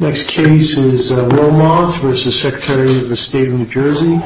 Next case is Wilmoth v. Secretary of State of New Jersey Paul Rossi v. Trenton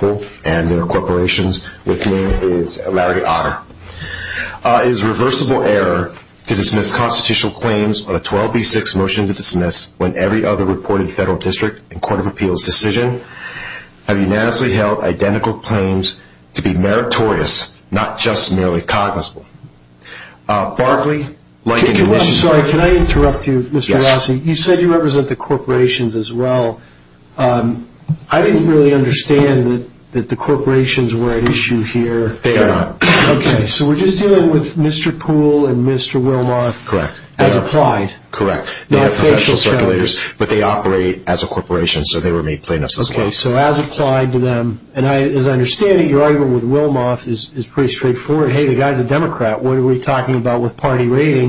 Poole v. Larry Otter It is a reversible error to dismiss constitutional claims on a 12b6 motion to dismiss when every other reported federal district and court of appeals decision have unanimously held identical claims to be meritorious, not just merely cognizable. Barkley v. Lincoln Commission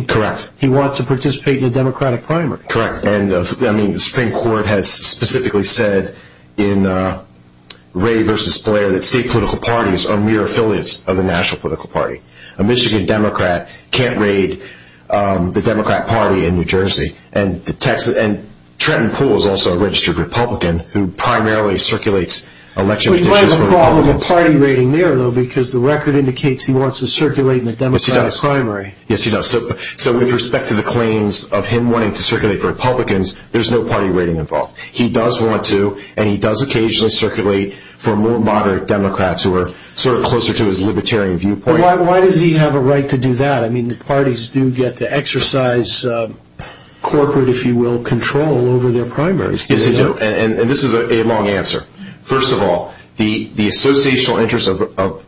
Correct He wants to participate in a Democratic primary Correct The Supreme Court has specifically said in Ray v. Blair that state political parties are mere affiliates of the national political party. A Michigan Democrat can't raid the Democrat party in New Jersey. And Trenton Poole is also a registered Republican who primarily circulates election petitions for Republicans. There's no party raiding there though because the record indicates he wants to circulate in a Democratic primary. Yes he does. So with respect to the claims of him wanting to circulate for Republicans, there's no party raiding involved. He does want to and he does occasionally circulate for more moderate Democrats who are sort of closer to his libertarian viewpoint. Why does he have a right to do that? I mean the parties do get to exercise corporate, if you will, control over their primaries. Yes they do. And this is a long answer. First of all, the associational interests of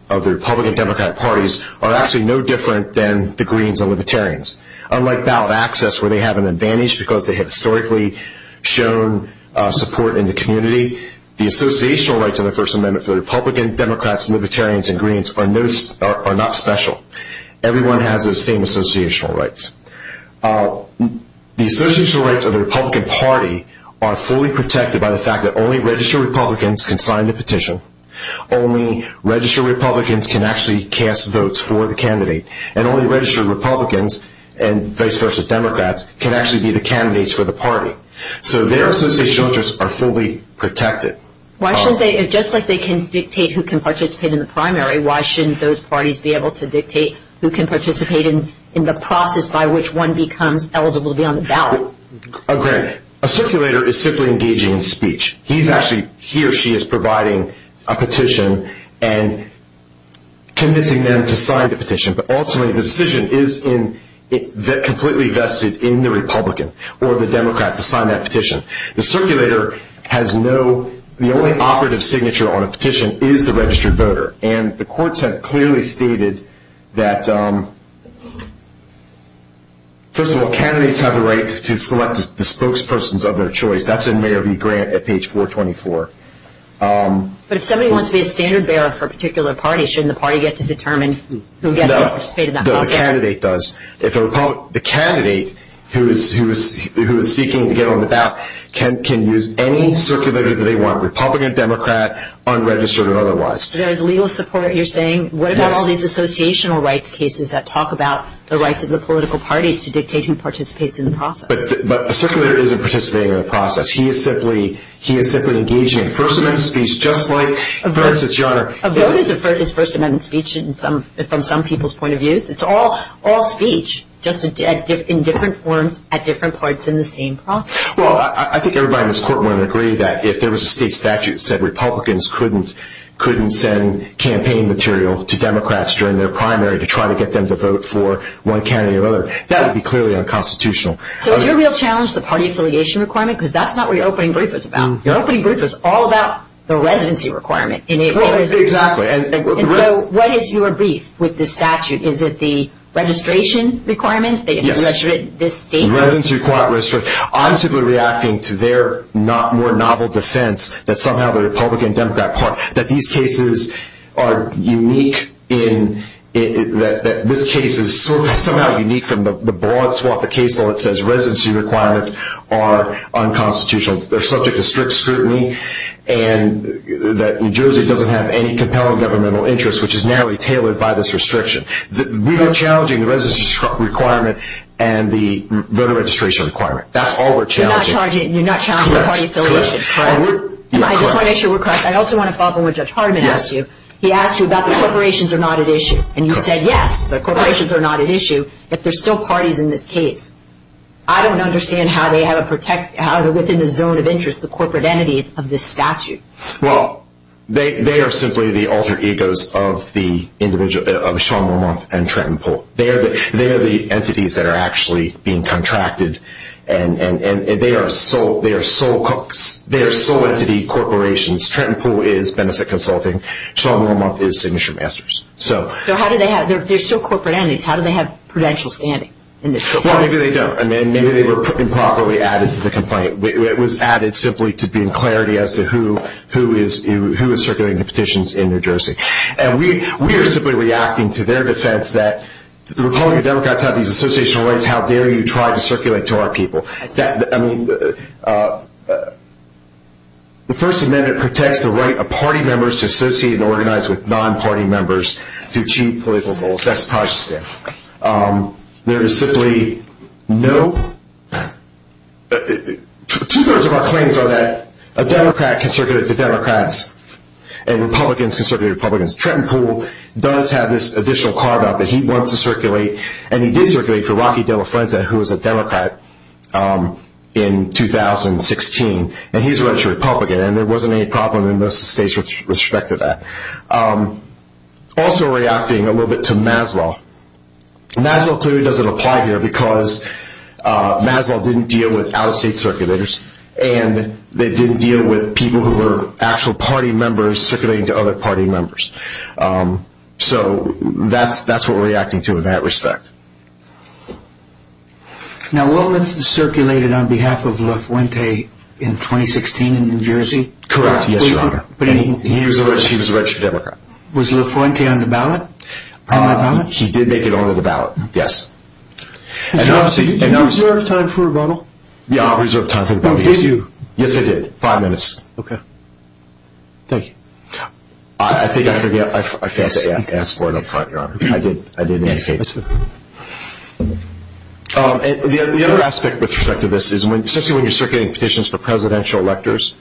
the Republican and Democrat parties are actually no different than the Greens and Libertarians. Unlike ballot access where they have an advantage because they have historically shown support in the community, the associational rights of the First Amendment for the Republican, Democrats, Libertarians, and Greens are not special. Everyone has those same associational rights. The associational rights of the Republican party are fully protected by the fact that only registered Republicans can sign the petition, only registered Republicans can actually cast votes for the candidate, and only registered Republicans and vice versa Democrats can actually be the candidates for the party. So their associational interests are fully protected. Just like they can dictate who can participate in the primary, why shouldn't those parties be able to dictate who can participate in the process by which one becomes eligible to be on the ballot? A circulator is simply engaging in speech. He or she is providing a petition and convincing them to sign the petition, but ultimately the decision is completely vested in the Republican or the Democrat to sign that petition. The circulator has no, the only operative signature on a petition is the registered voter, and the courts have clearly stated that, first of all, candidates have the right to select the spokespersons of their choice. That's in Mayer v. Grant at page 424. But if somebody wants to be a standard bearer for a particular party, shouldn't the party get to determine who gets to participate in that process? The candidate who is seeking to get on the ballot can use any circulator that they want, Republican, Democrat, unregistered or otherwise. So there is legal support, you're saying? Yes. What about all these associational rights cases that talk about the rights of the political parties to dictate who participates in the process? But a circulator isn't participating in the process. He is simply engaging in First Amendment speech just like a voter. A vote is First Amendment speech from some people's point of view. It's all speech, just in different forms at different parts in the same process. Well, I think everybody in this court would agree that if there was a state statute that said Republicans couldn't send campaign material to Democrats during their primary to try to get them to vote for one candidate or another, that would be clearly unconstitutional. So is your real challenge the party affiliation requirement? Because that's not what your opening brief is about. Your opening brief is all about the residency requirement. Exactly. And so what is your brief with the statute? Is it the registration requirement? Yes. The state? The residency requirement. I'm simply reacting to their more novel defense that somehow the Republican and Democrat parties, that these cases are unique in that this case is somehow unique from the broad swath of cases where it says residency requirements are unconstitutional. They're subject to strict scrutiny and that New Jersey doesn't have any compelling governmental interest, which is narrowly tailored by this restriction. We are challenging the residency requirement and the voter registration requirement. That's all we're challenging. You're not challenging the party affiliation, correct? Correct. I just want to make sure we're correct. I also want to follow up on what Judge Hardman asked you. He asked you about the corporations are not at issue. And you said yes, the corporations are not at issue, but there's still parties in this case. I don't understand how they have within the zone of interest the corporate entities of this statute. Well, they are simply the alter egos of Sean Wormuth and Trenton Poole. They are the entities that are actually being contracted, and they are sole entity corporations. Trenton Poole is benefit consulting. Sean Wormuth is signature masters. So how do they have – they're still corporate entities. How do they have prudential standing in this case? Well, maybe they don't. I mean, maybe they were improperly added to the complaint. It was added simply to bring clarity as to who is circulating the petitions in New Jersey. And we are simply reacting to their defense that the Republican Democrats have these associational rights. How dare you try to circulate to our people. I mean, the First Amendment protects the right of party members to associate and organize with non-party members to achieve political goals. That's probably stiff. There is simply no – two-thirds of our claims are that a Democrat can circulate to Democrats and Republicans can circulate to Republicans. Trenton Poole does have this additional carve-out that he wants to circulate, and he did circulate for Rocky De La Frenta, who was a Democrat in 2016, and he's a registered Republican, and there wasn't any problem in most of the states with respect to that. Also reacting a little bit to Maslow. Maslow clearly doesn't apply here because Maslow didn't deal with out-of-state circulators and they didn't deal with people who were actual party members circulating to other party members. So that's what we're reacting to in that respect. Now, Willmuth circulated on behalf of La Fuente in 2016 in New Jersey? Correct, yes, Your Honor. He was a registered Democrat. Was La Fuente on the ballot? He did make it onto the ballot, yes. Did you reserve time for a rebuttal? Yeah, I reserved time for the rebuttal. Did you? Yes, I did. Five minutes. Okay. Thank you. I think I forgot – I failed to ask for it up front, Your Honor. I did, I did. Yes, sir. The other aspect with respect to this is, especially when you're circulating petitions for presidential electors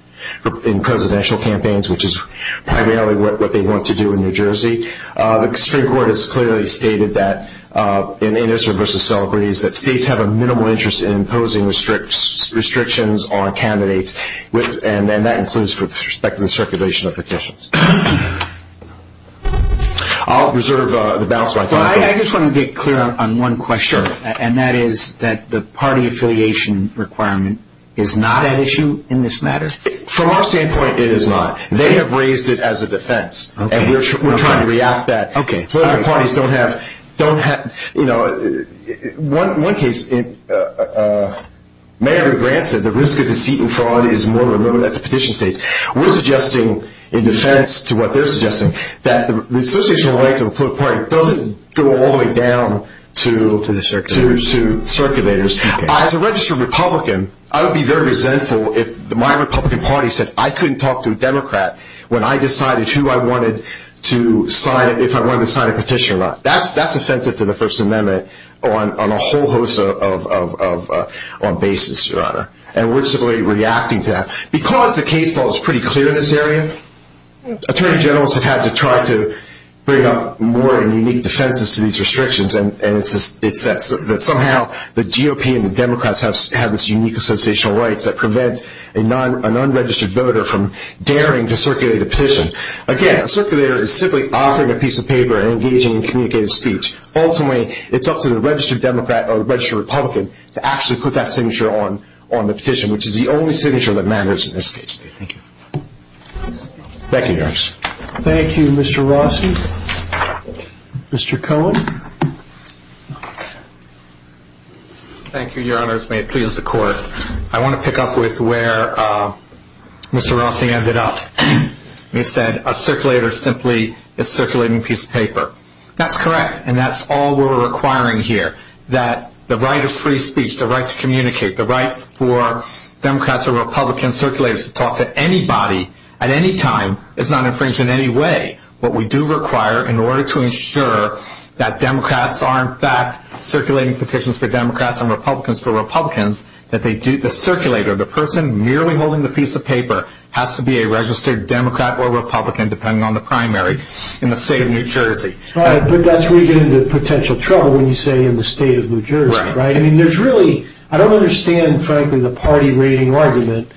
in presidential campaigns, which is primarily what they want to do in New Jersey, the Supreme Court has clearly stated that in Innocent v. Celebrities that states have a minimal interest in imposing restrictions on candidates and that includes with respect to the circulation of petitions. I'll reserve the balance of my time. I just want to get clear on one question. Sure. And that is that the party affiliation requirement is not at issue in this matter? From our standpoint, it is not. They have raised it as a defense. Okay. And we're trying to react that. Okay. Political parties don't have – you know, in one case, Mayor Grant said the risk of deceit and fraud is more limited at the petition stage. We're suggesting in defense to what they're suggesting, that the association of rights of a political party doesn't go all the way down to circulators. As a registered Republican, I would be very resentful if my Republican party said I couldn't talk to a Democrat when I decided who I wanted to sign – if I wanted to sign a petition or not. That's offensive to the First Amendment on a whole host of bases, Your Honor. And we're simply reacting to that. Because the case law is pretty clear in this area, attorney generals have had to try to bring up more unique defenses to these restrictions, and it's that somehow the GOP and the Democrats have this unique association of rights that prevents an unregistered voter from daring to circulate a petition. Again, a circulator is simply offering a piece of paper and engaging in communicative speech. Ultimately, it's up to the registered Democrat or registered Republican to actually put that signature on the petition, which is the only signature that matters in this case. Thank you, Your Honor. Thank you, Mr. Rossi. Mr. Cohen. Thank you, Your Honors. May it please the Court. I want to pick up with where Mr. Rossi ended up. He said a circulator simply is circulating a piece of paper. That's correct, and that's all we're requiring here. That the right of free speech, the right to communicate, the right for Democrats or Republicans, circulators to talk to anybody at any time is not infringed in any way. What we do require in order to ensure that Democrats are, in fact, circulating petitions for Democrats and Republicans for Republicans, that the circulator, the person merely holding the piece of paper, has to be a registered Democrat or Republican, depending on the primary, in the state of New Jersey. But that's where you get into potential trouble when you say in the state of New Jersey, right? Right. I mean, there's really, I don't understand, frankly, the party rating argument.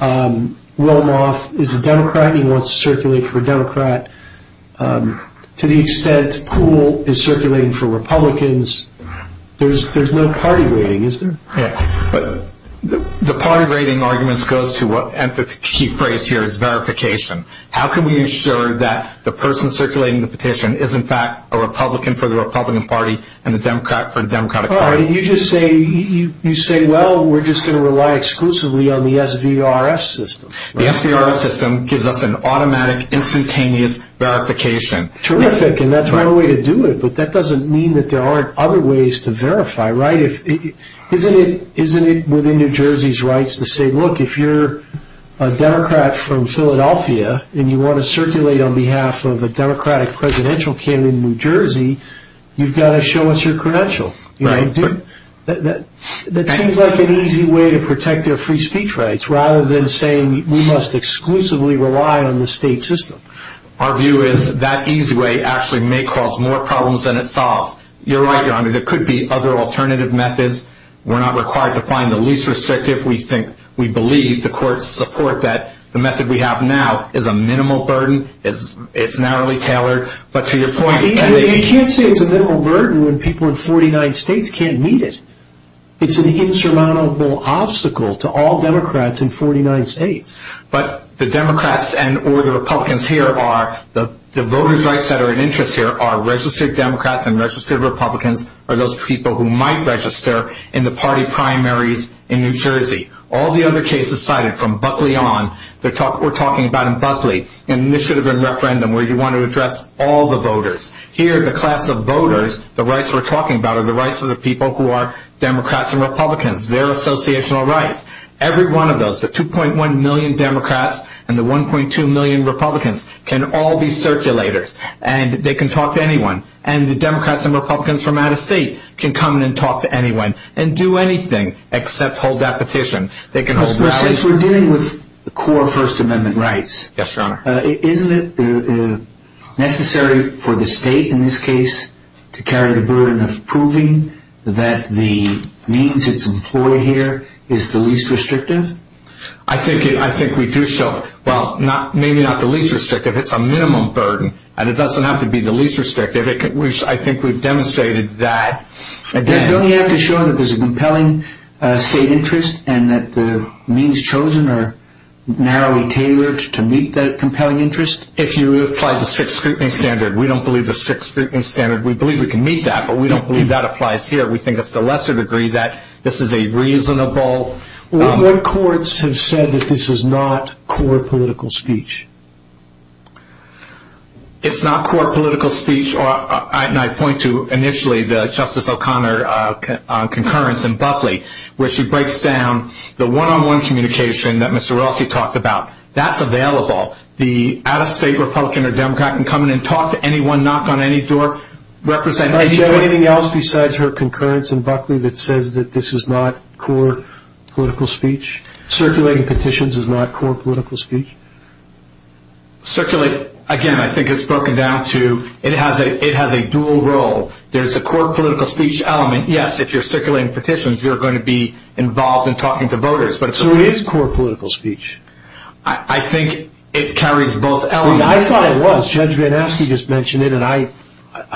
Wilmoth is a Democrat and he wants to circulate for a Democrat. To the extent Poole is circulating for Republicans, there's no party rating, is there? The party rating argument goes to what, and the key phrase here is verification. How can we ensure that the person circulating the petition is, in fact, a Republican for the Republican party and a Democrat for the Democratic party? You just say, well, we're just going to rely exclusively on the SVRS system. The SVRS system gives us an automatic, instantaneous verification. Terrific, and that's one way to do it, but that doesn't mean that there aren't other ways to verify, right? Isn't it within New Jersey's rights to say, look, if you're a Democrat from Philadelphia and you want to circulate on behalf of a Democratic presidential candidate in New Jersey, you've got to show us your credential. Right. That seems like an easy way to protect their free speech rights, rather than saying we must exclusively rely on the state system. Our view is that easy way actually may cause more problems than it solves. You're right, Your Honor. There could be other alternative methods. We're not required to find the least restrictive. We believe the courts support that. The method we have now is a minimal burden. It's narrowly tailored, but to your point, You can't say it's a minimal burden when people in 49 states can't meet it. It's an insurmountable obstacle to all Democrats in 49 states. But the Democrats or the Republicans here are, the voters' rights that are in interest here are registered Democrats and registered Republicans are those people who might register in the party primaries in New Jersey. All the other cases cited from Buckley on, we're talking about in Buckley, initiative and referendum where you want to address all the voters. Here, the class of voters, the rights we're talking about are the rights of the people who are Democrats and Republicans, their associational rights. Every one of those, the 2.1 million Democrats and the 1.2 million Republicans can all be circulators, and they can talk to anyone. And the Democrats and Republicans from out of state can come in and talk to anyone and do anything except hold that petition. They can hold ballots. Since we're dealing with the core First Amendment rights, Yes, Your Honor. isn't it necessary for the state in this case to carry the burden of proving that the means it's employed here is the least restrictive? I think we do show, well, maybe not the least restrictive. It's a minimum burden, and it doesn't have to be the least restrictive. I think we've demonstrated that. Don't you have to show that there's a compelling state interest and that the means chosen are narrowly tailored to meet that compelling interest? If you apply the strict scrutiny standard. We don't believe the strict scrutiny standard. We believe we can meet that, but we don't believe that applies here. We think it's to a lesser degree that this is a reasonable. What courts have said that this is not core political speech? It's not core political speech, and I point to initially the Justice O'Connor concurrence in Buckley where she breaks down the one-on-one communication that Mr. Rossi talked about. That's available. The out-of-state Republican or Democrat can come in and talk to anyone, knock on any door, represent anybody. Do you have anything else besides her concurrence in Buckley that says that this is not core political speech? Circulating petitions is not core political speech? Circulate, again, I think it's broken down to it has a dual role. There's a core political speech element. Yes, if you're circulating petitions, you're going to be involved in talking to voters. So it is core political speech. I think it carries both elements. I mean, I thought it was. Judge Van Aske just mentioned it, and I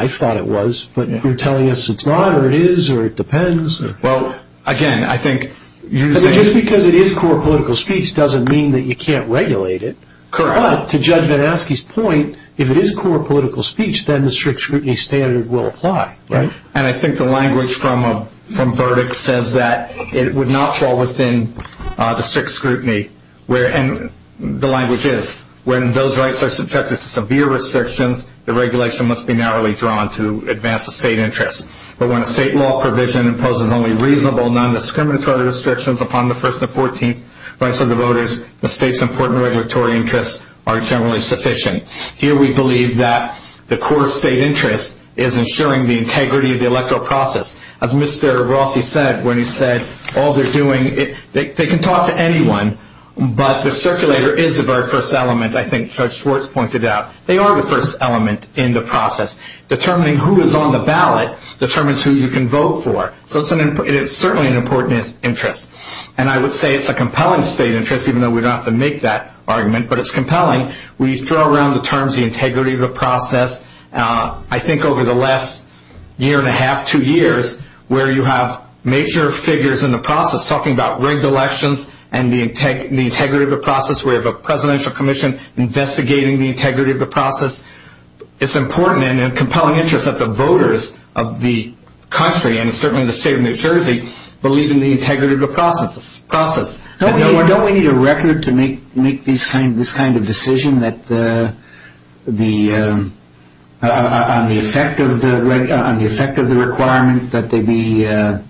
thought it was. But you're telling us it's not or it is or it depends. Well, again, I think you're saying— Just because it is core political speech doesn't mean that you can't regulate it. Correct. But to Judge Van Aske's point, if it is core political speech, then the strict scrutiny standard will apply. And I think the language from Burdick says that it would not fall within the strict scrutiny, and the language is when those rights are subjected to severe restrictions, the regulation must be narrowly drawn to advance the state interest. But when a state law provision imposes only reasonable, non-discriminatory restrictions upon the first and 14th rights of the voters, the state's important regulatory interests are generally sufficient. Here we believe that the core state interest is ensuring the integrity of the electoral process. As Mr. Rossi said when he said all they're doing— they can talk to anyone, but the circulator is the very first element, I think Judge Schwartz pointed out. They are the first element in the process. Determining who is on the ballot determines who you can vote for. So it's certainly an important interest. And I would say it's a compelling state interest, even though we don't have to make that argument, but it's compelling. We throw around the terms, the integrity of the process, I think over the last year and a half, two years, where you have major figures in the process talking about rigged elections and the integrity of the process. We have a presidential commission investigating the integrity of the process. It's important and a compelling interest that the voters of the country, and certainly the state of New Jersey, believe in the integrity of the process. Don't we need a record to make this kind of decision on the effect of the requirement that there be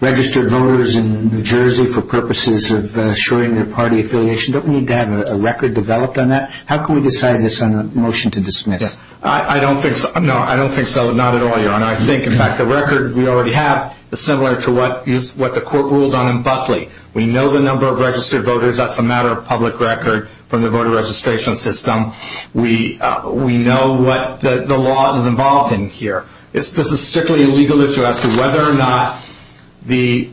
registered voters in New Jersey for purposes of assuring their party affiliation? Don't we need to have a record developed on that? How can we decide this on a motion to dismiss? I don't think so. Not at all, Your Honor. I think, in fact, the record we already have is similar to what the court ruled on in Buckley. We know the number of registered voters. That's a matter of public record from the voter registration system. We know what the law is involved in here. This is strictly a legal issue as to whether or not the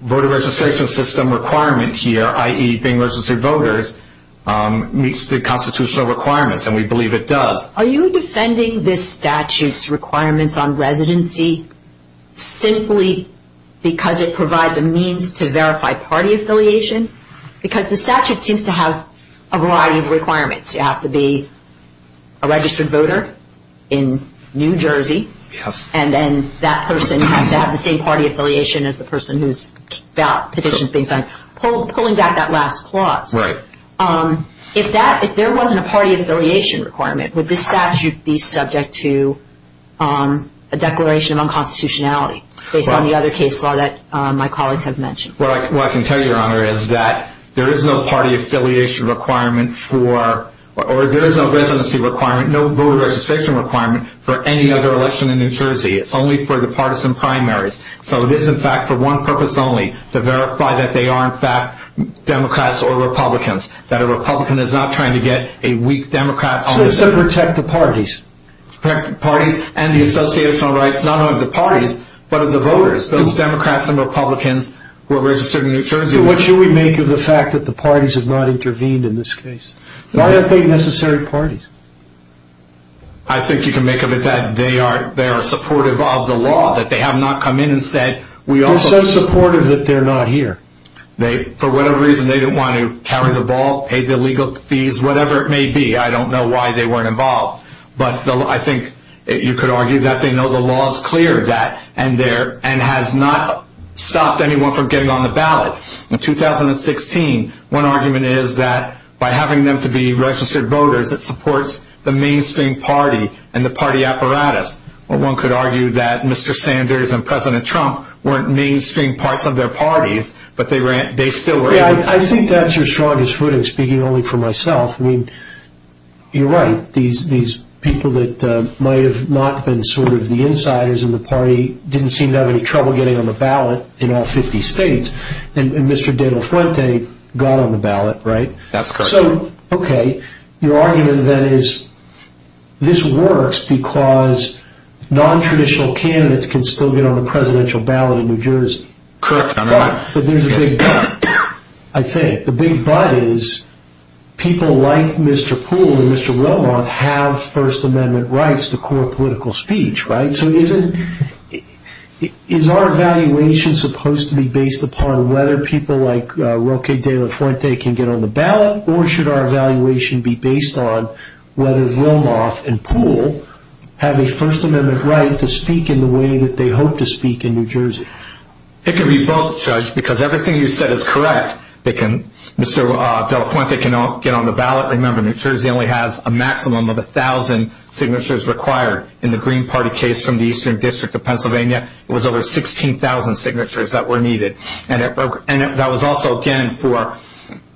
voter registration system requirement here, i.e. being registered voters, meets the constitutional requirements, and we believe it does. Are you defending this statute's requirements on residency simply because it provides a means to verify party affiliation? Because the statute seems to have a variety of requirements. You have to be a registered voter in New Jersey, and then that person has to have the same party affiliation as the person whose petition is being signed. Pulling back that last clause, if there wasn't a party affiliation requirement, would this statute be subject to a declaration of unconstitutionality based on the other case law that my colleagues have mentioned? What I can tell you, Your Honor, is that there is no party affiliation requirement for, or there is no residency requirement, no voter registration requirement, for any other election in New Jersey. It's only for the partisan primaries. So it is, in fact, for one purpose only, to verify that they are, in fact, Democrats or Republicans, that a Republican is not trying to get a weak Democrat on the side. So it's to protect the parties? To protect the parties and the associational rights, not only of the parties, but of the voters. Those Democrats and Republicans who are registered in New Jersey... What should we make of the fact that the parties have not intervened in this case? Why aren't they necessary parties? I think you can make of it that they are supportive of the law, that they have not come in and said, we also... They're so supportive that they're not here. They, for whatever reason, they didn't want to carry the ball, pay the legal fees, whatever it may be. I don't know why they weren't involved. But I think you could argue that they know the law is clear, and has not stopped anyone from getting on the ballot. In 2016, one argument is that by having them to be registered voters, it supports the mainstream party and the party apparatus. Or one could argue that Mr. Sanders and President Trump weren't mainstream parts of their parties, but they still were... Yeah, I think that's your strongest footing, speaking only for myself. I mean, you're right. These people that might have not been sort of the insiders in the party didn't seem to have any trouble getting on the ballot in all 50 states. And Mr. De La Fuente got on the ballot, right? That's correct. So, okay, your argument then is this works because non-traditional candidates can still get on the presidential ballot in New Jersey. Correct. But there's a big but, I think. The big but is people like Mr. Poole and Mr. Wilmoth have First Amendment rights to court political speech, right? So is our evaluation supposed to be based upon whether people like Roque De La Fuente can get on the ballot, or should our evaluation be based on whether Wilmoth and Poole have a First Amendment right to speak in the way that they hope to speak in New Jersey? It can be both, Judge, because everything you said is correct. Mr. De La Fuente can get on the ballot. Remember, New Jersey only has a maximum of 1,000 signatures required. In the Green Party case from the Eastern District of Pennsylvania, it was over 16,000 signatures that were needed. And that was also, again, for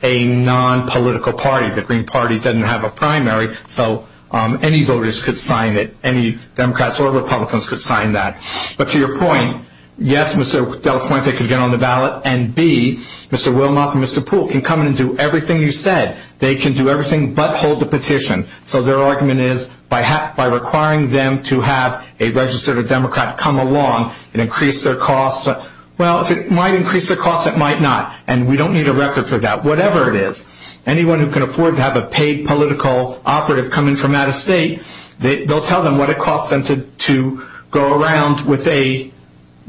a non-political party. The Green Party doesn't have a primary, so any voters could sign it. Any Democrats or Republicans could sign that. But to your point, yes, Mr. De La Fuente could get on the ballot, and, B, Mr. Wilmoth and Mr. Poole can come in and do everything you said. They can do everything but hold the petition. So their argument is, by requiring them to have a registered Democrat come along and increase their costs, well, if it might increase their costs, it might not, and we don't need a record for that, whatever it is. Anyone who can afford to have a paid political operative come in from out of state, they'll tell them what it costs them to go around with a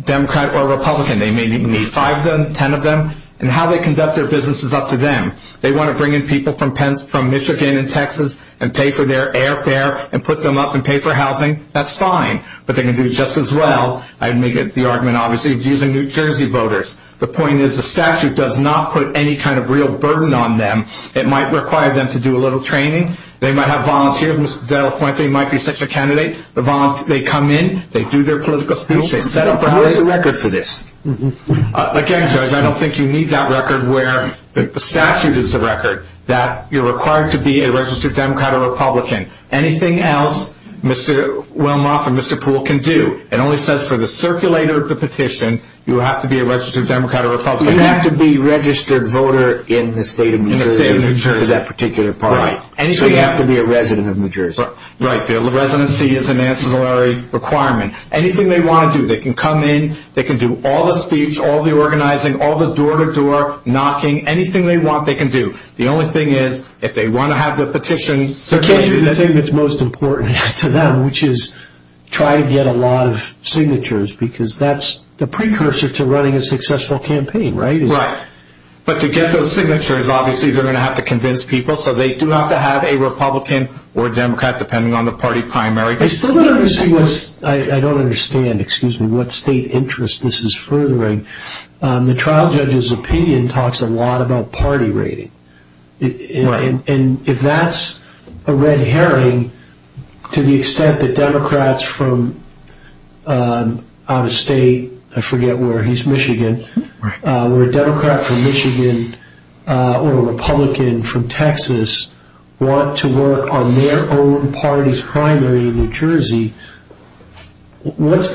Democrat or a Republican. They may need five of them, ten of them. And how they conduct their business is up to them. They want to bring in people from Michigan and Texas and pay for their airfare and put them up and pay for housing, that's fine. But they can do just as well. I make the argument, obviously, of using New Jersey voters. The point is the statute does not put any kind of real burden on them. It might require them to do a little training. They might have volunteers. Mr. De La Fuente might be such a candidate. They come in, they do their political speech. How is the record for this? Again, Judge, I don't think you need that record where the statute is the record that you're required to be a registered Democrat or Republican. Anything else Mr. Wilmoth or Mr. Poole can do. It only says for the circulator of the petition, you have to be a registered Democrat or Republican. You have to be a registered voter in the state of New Jersey for that particular part. Right. So you have to be a resident of New Jersey. Right. The residency is an ancillary requirement. Anything they want to do. They can come in. They can do all the speech, all the organizing, all the door-to-door knocking. Anything they want they can do. The only thing is if they want to have the petition circulated. You can't do the thing that's most important to them, which is try to get a lot of signatures because that's the precursor to running a successful campaign, right? Right. But to get those signatures, obviously, they're going to have to convince people. So they do have to have a Republican or Democrat, depending on the party primary. I still don't understand what state interest this is furthering. The trial judge's opinion talks a lot about party rating. If that's a red herring, to the extent that Democrats from out of state, I forget where. He's Michigan. Right. What's the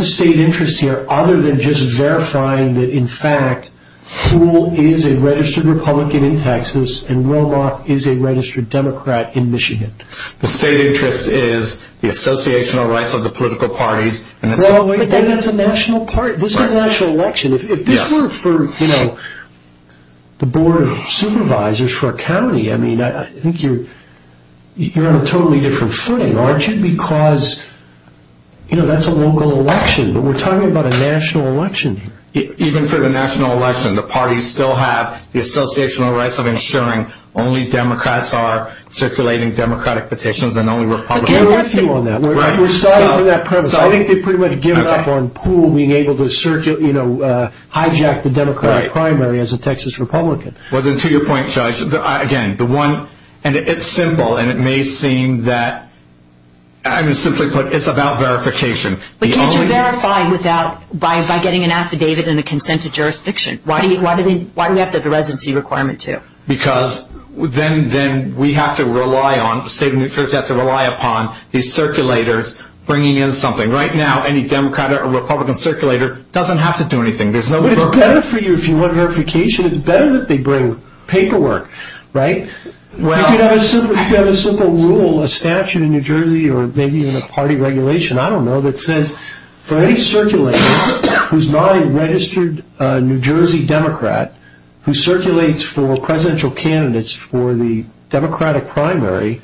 state interest here other than just verifying that, in fact, Poole is a registered Republican in Texas and Romoff is a registered Democrat in Michigan? The state interest is the associational rights of the political parties. But then that's a national party. This is a national election. If this were for the Board of Supervisors for a county, I think you're on a totally different footing. Aren't you? Because that's a local election. But we're talking about a national election here. Even for the national election, the parties still have the associational rights of ensuring only Democrats are circulating Democratic petitions and only Republicans. We're starting from that premise. I think they've pretty much given up on Poole being able to hijack the Democratic primary as a Texas Republican. To your point, Judge, again, it's simple. And it may seem that, simply put, it's about verification. But can't you verify by getting an affidavit and a consent to jurisdiction? Why do we have to have a residency requirement, too? Because then we have to rely on, the state of New Jersey has to rely upon these circulators bringing in something. Right now, any Democrat or Republican circulator doesn't have to do anything. But it's better for you if you want verification. It's better that they bring paperwork, right? You could have a simple rule, a statute in New Jersey, or maybe even a party regulation, I don't know, that says for any circulator who's not a registered New Jersey Democrat, who circulates for presidential candidates for the Democratic primary,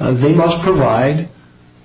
they must provide,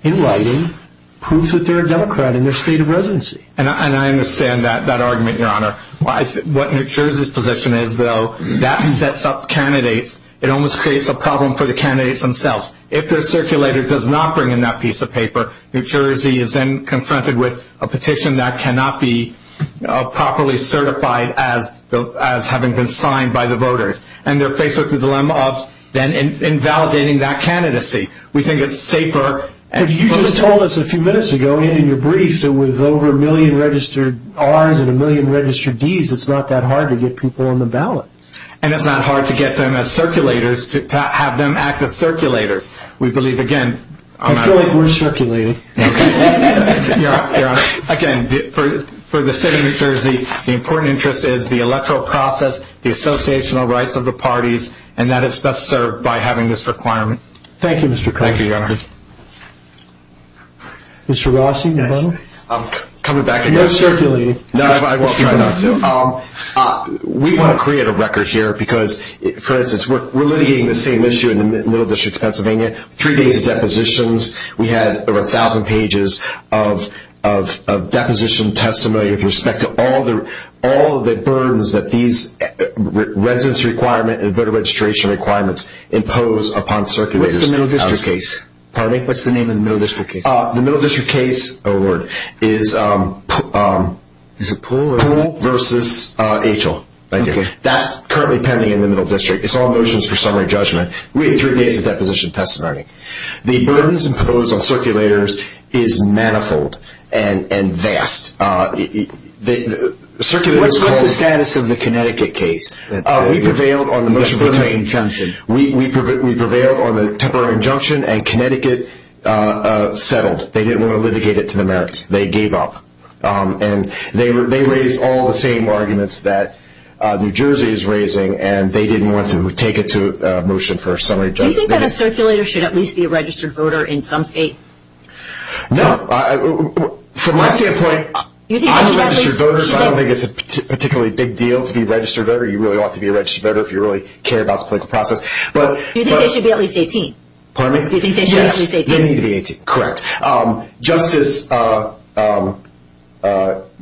in writing, proof that they're a Democrat in their state of residency. And I understand that argument, Your Honor. What New Jersey's position is, though, that sets up candidates. It almost creates a problem for the candidates themselves. If their circulator does not bring in that piece of paper, New Jersey is then confronted with a petition that cannot be properly certified as having been signed by the voters. And they're faced with the dilemma of then invalidating that candidacy. We think it's safer. You just told us a few minutes ago, in your brief, that with over a million registered Rs and a million registered Ds, it's not that hard to get people on the ballot. And it's not hard to get them as circulators, to have them act as circulators. We believe, again... I feel like we're circulating. Your Honor, again, for the state of New Jersey, the important interest is the electoral process, the associational rights of the parties, and that it's best served by having this requirement. Thank you, Mr. Connolly. Thank you, Your Honor. Mr. Rossi? Yes. Coming back... You're circulating. No, I will try not to. We want to create a record here because, for instance, we're litigating the same issue in the Middle District of Pennsylvania. Three days of depositions. We had over a thousand pages of deposition testimony with respect to all of the burdens that these residence requirement and voter registration requirements impose upon circulators. What's the Middle District case? Pardon me? What's the name of the Middle District case? The Middle District case... Oh, Lord. Is it Poole? Poole versus HL. Thank you. That's currently pending in the Middle District. It's all motions for summary judgment. We had three days of deposition testimony. The burdens imposed on circulators is manifold and vast. What's the status of the Connecticut case? We prevailed on the motion for... Temporary injunction. We prevailed on the temporary injunction, and Connecticut settled. They didn't want to litigate it to the Americans. They gave up. And they raised all the same arguments that New Jersey is raising, and they didn't want to take it to motion for summary judgment. Do you think that a circulator should at least be a registered voter in some state? No. From my standpoint, I'm a registered voter, so I don't think it's a particularly big deal to be a registered voter. You really ought to be a registered voter if you really care about the political process. Do you think they should be at least 18? Pardon me? Do you think they should be at least 18? They need to be 18. Correct. Justice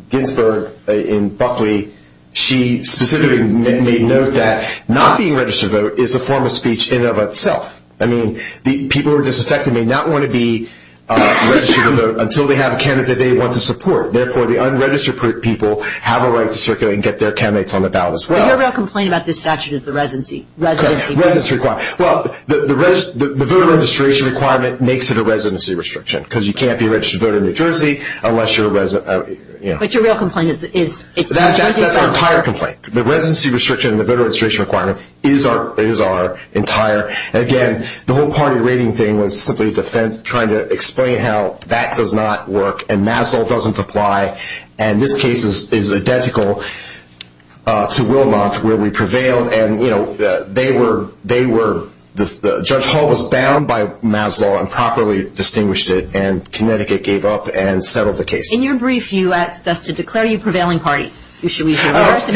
Ginsberg in Buckley, she specifically made note that not being a registered voter is a form of speech in and of itself. I mean, people who are disaffected may not want to be a registered voter until they have a candidate they want to support. Therefore, the unregistered people have a right to circulate and get their candidates on the ballot as well. But your real complaint about this statute is the residency requirement. Well, the voter registration requirement makes it a residency restriction because you can't be a registered voter in New Jersey unless you're a resident. But your real complaint is that it's not. That's our entire complaint. The residency restriction and the voter registration requirement is our entire. Again, the whole party rating thing was simply trying to explain how that does not work and Maslow doesn't apply. And this case is identical to Wilmoth where we prevailed. Judge Hall was bound by Maslow and properly distinguished it, and Connecticut gave up and settled the case. In your brief, you asked us to declare you prevailing parties. Should we do that? If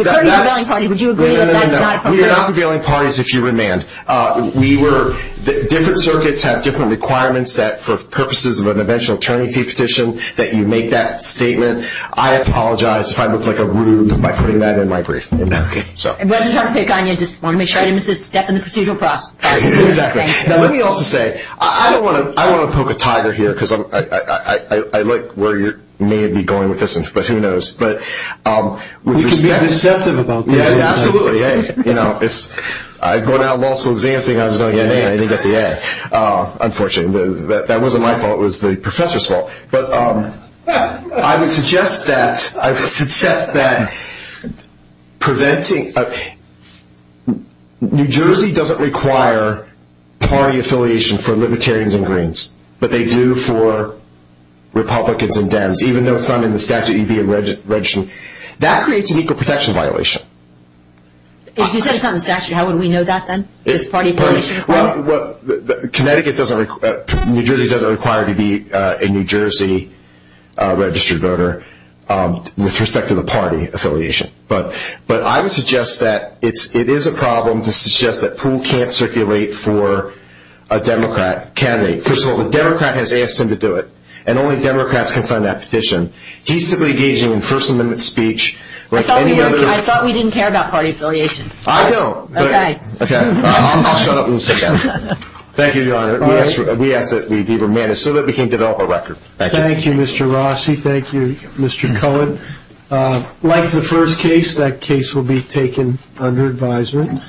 you're declaring a prevailing party, would you agree that that's not a prevailing party? We are not prevailing parties if you remand. Different circuits have different requirements that for purposes of an eventual attorney fee petition that you make that statement. I apologize if I look like a rude by putting that in my brief. I just want to make sure I didn't miss a step in the procedural process. Exactly. Now let me also say, I don't want to poke a tiger here because I like where you may be going with this, but who knows. We can be deceptive about this. Absolutely. Going out in law school is the only thing I was going to get in, and I didn't get the A. Unfortunately. That wasn't my fault. It was the professor's fault. But I would suggest that New Jersey doesn't require party affiliation for Libertarians and Greens, but they do for Republicans and Dems, even though it's not in the statute you'd be registering. That creates an equal protection violation. If you said it's not in the statute, how would we know that then? Does party affiliation require it? Connecticut doesn't, New Jersey doesn't require to be a New Jersey registered voter with respect to the party affiliation. But I would suggest that it is a problem to suggest that pool can't circulate for a Democrat candidate. First of all, the Democrat has asked him to do it, and only Democrats can sign that petition. He's simply engaging in First Amendment speech. I thought we didn't care about party affiliation. I don't. Okay. I'll shut up and sit down. Thank you, Your Honor. We ask that we be remanded so that we can develop a record. Thank you, Mr. Rossi. Thank you, Mr. Cohen. Like the first case, that case will be taken under advisement.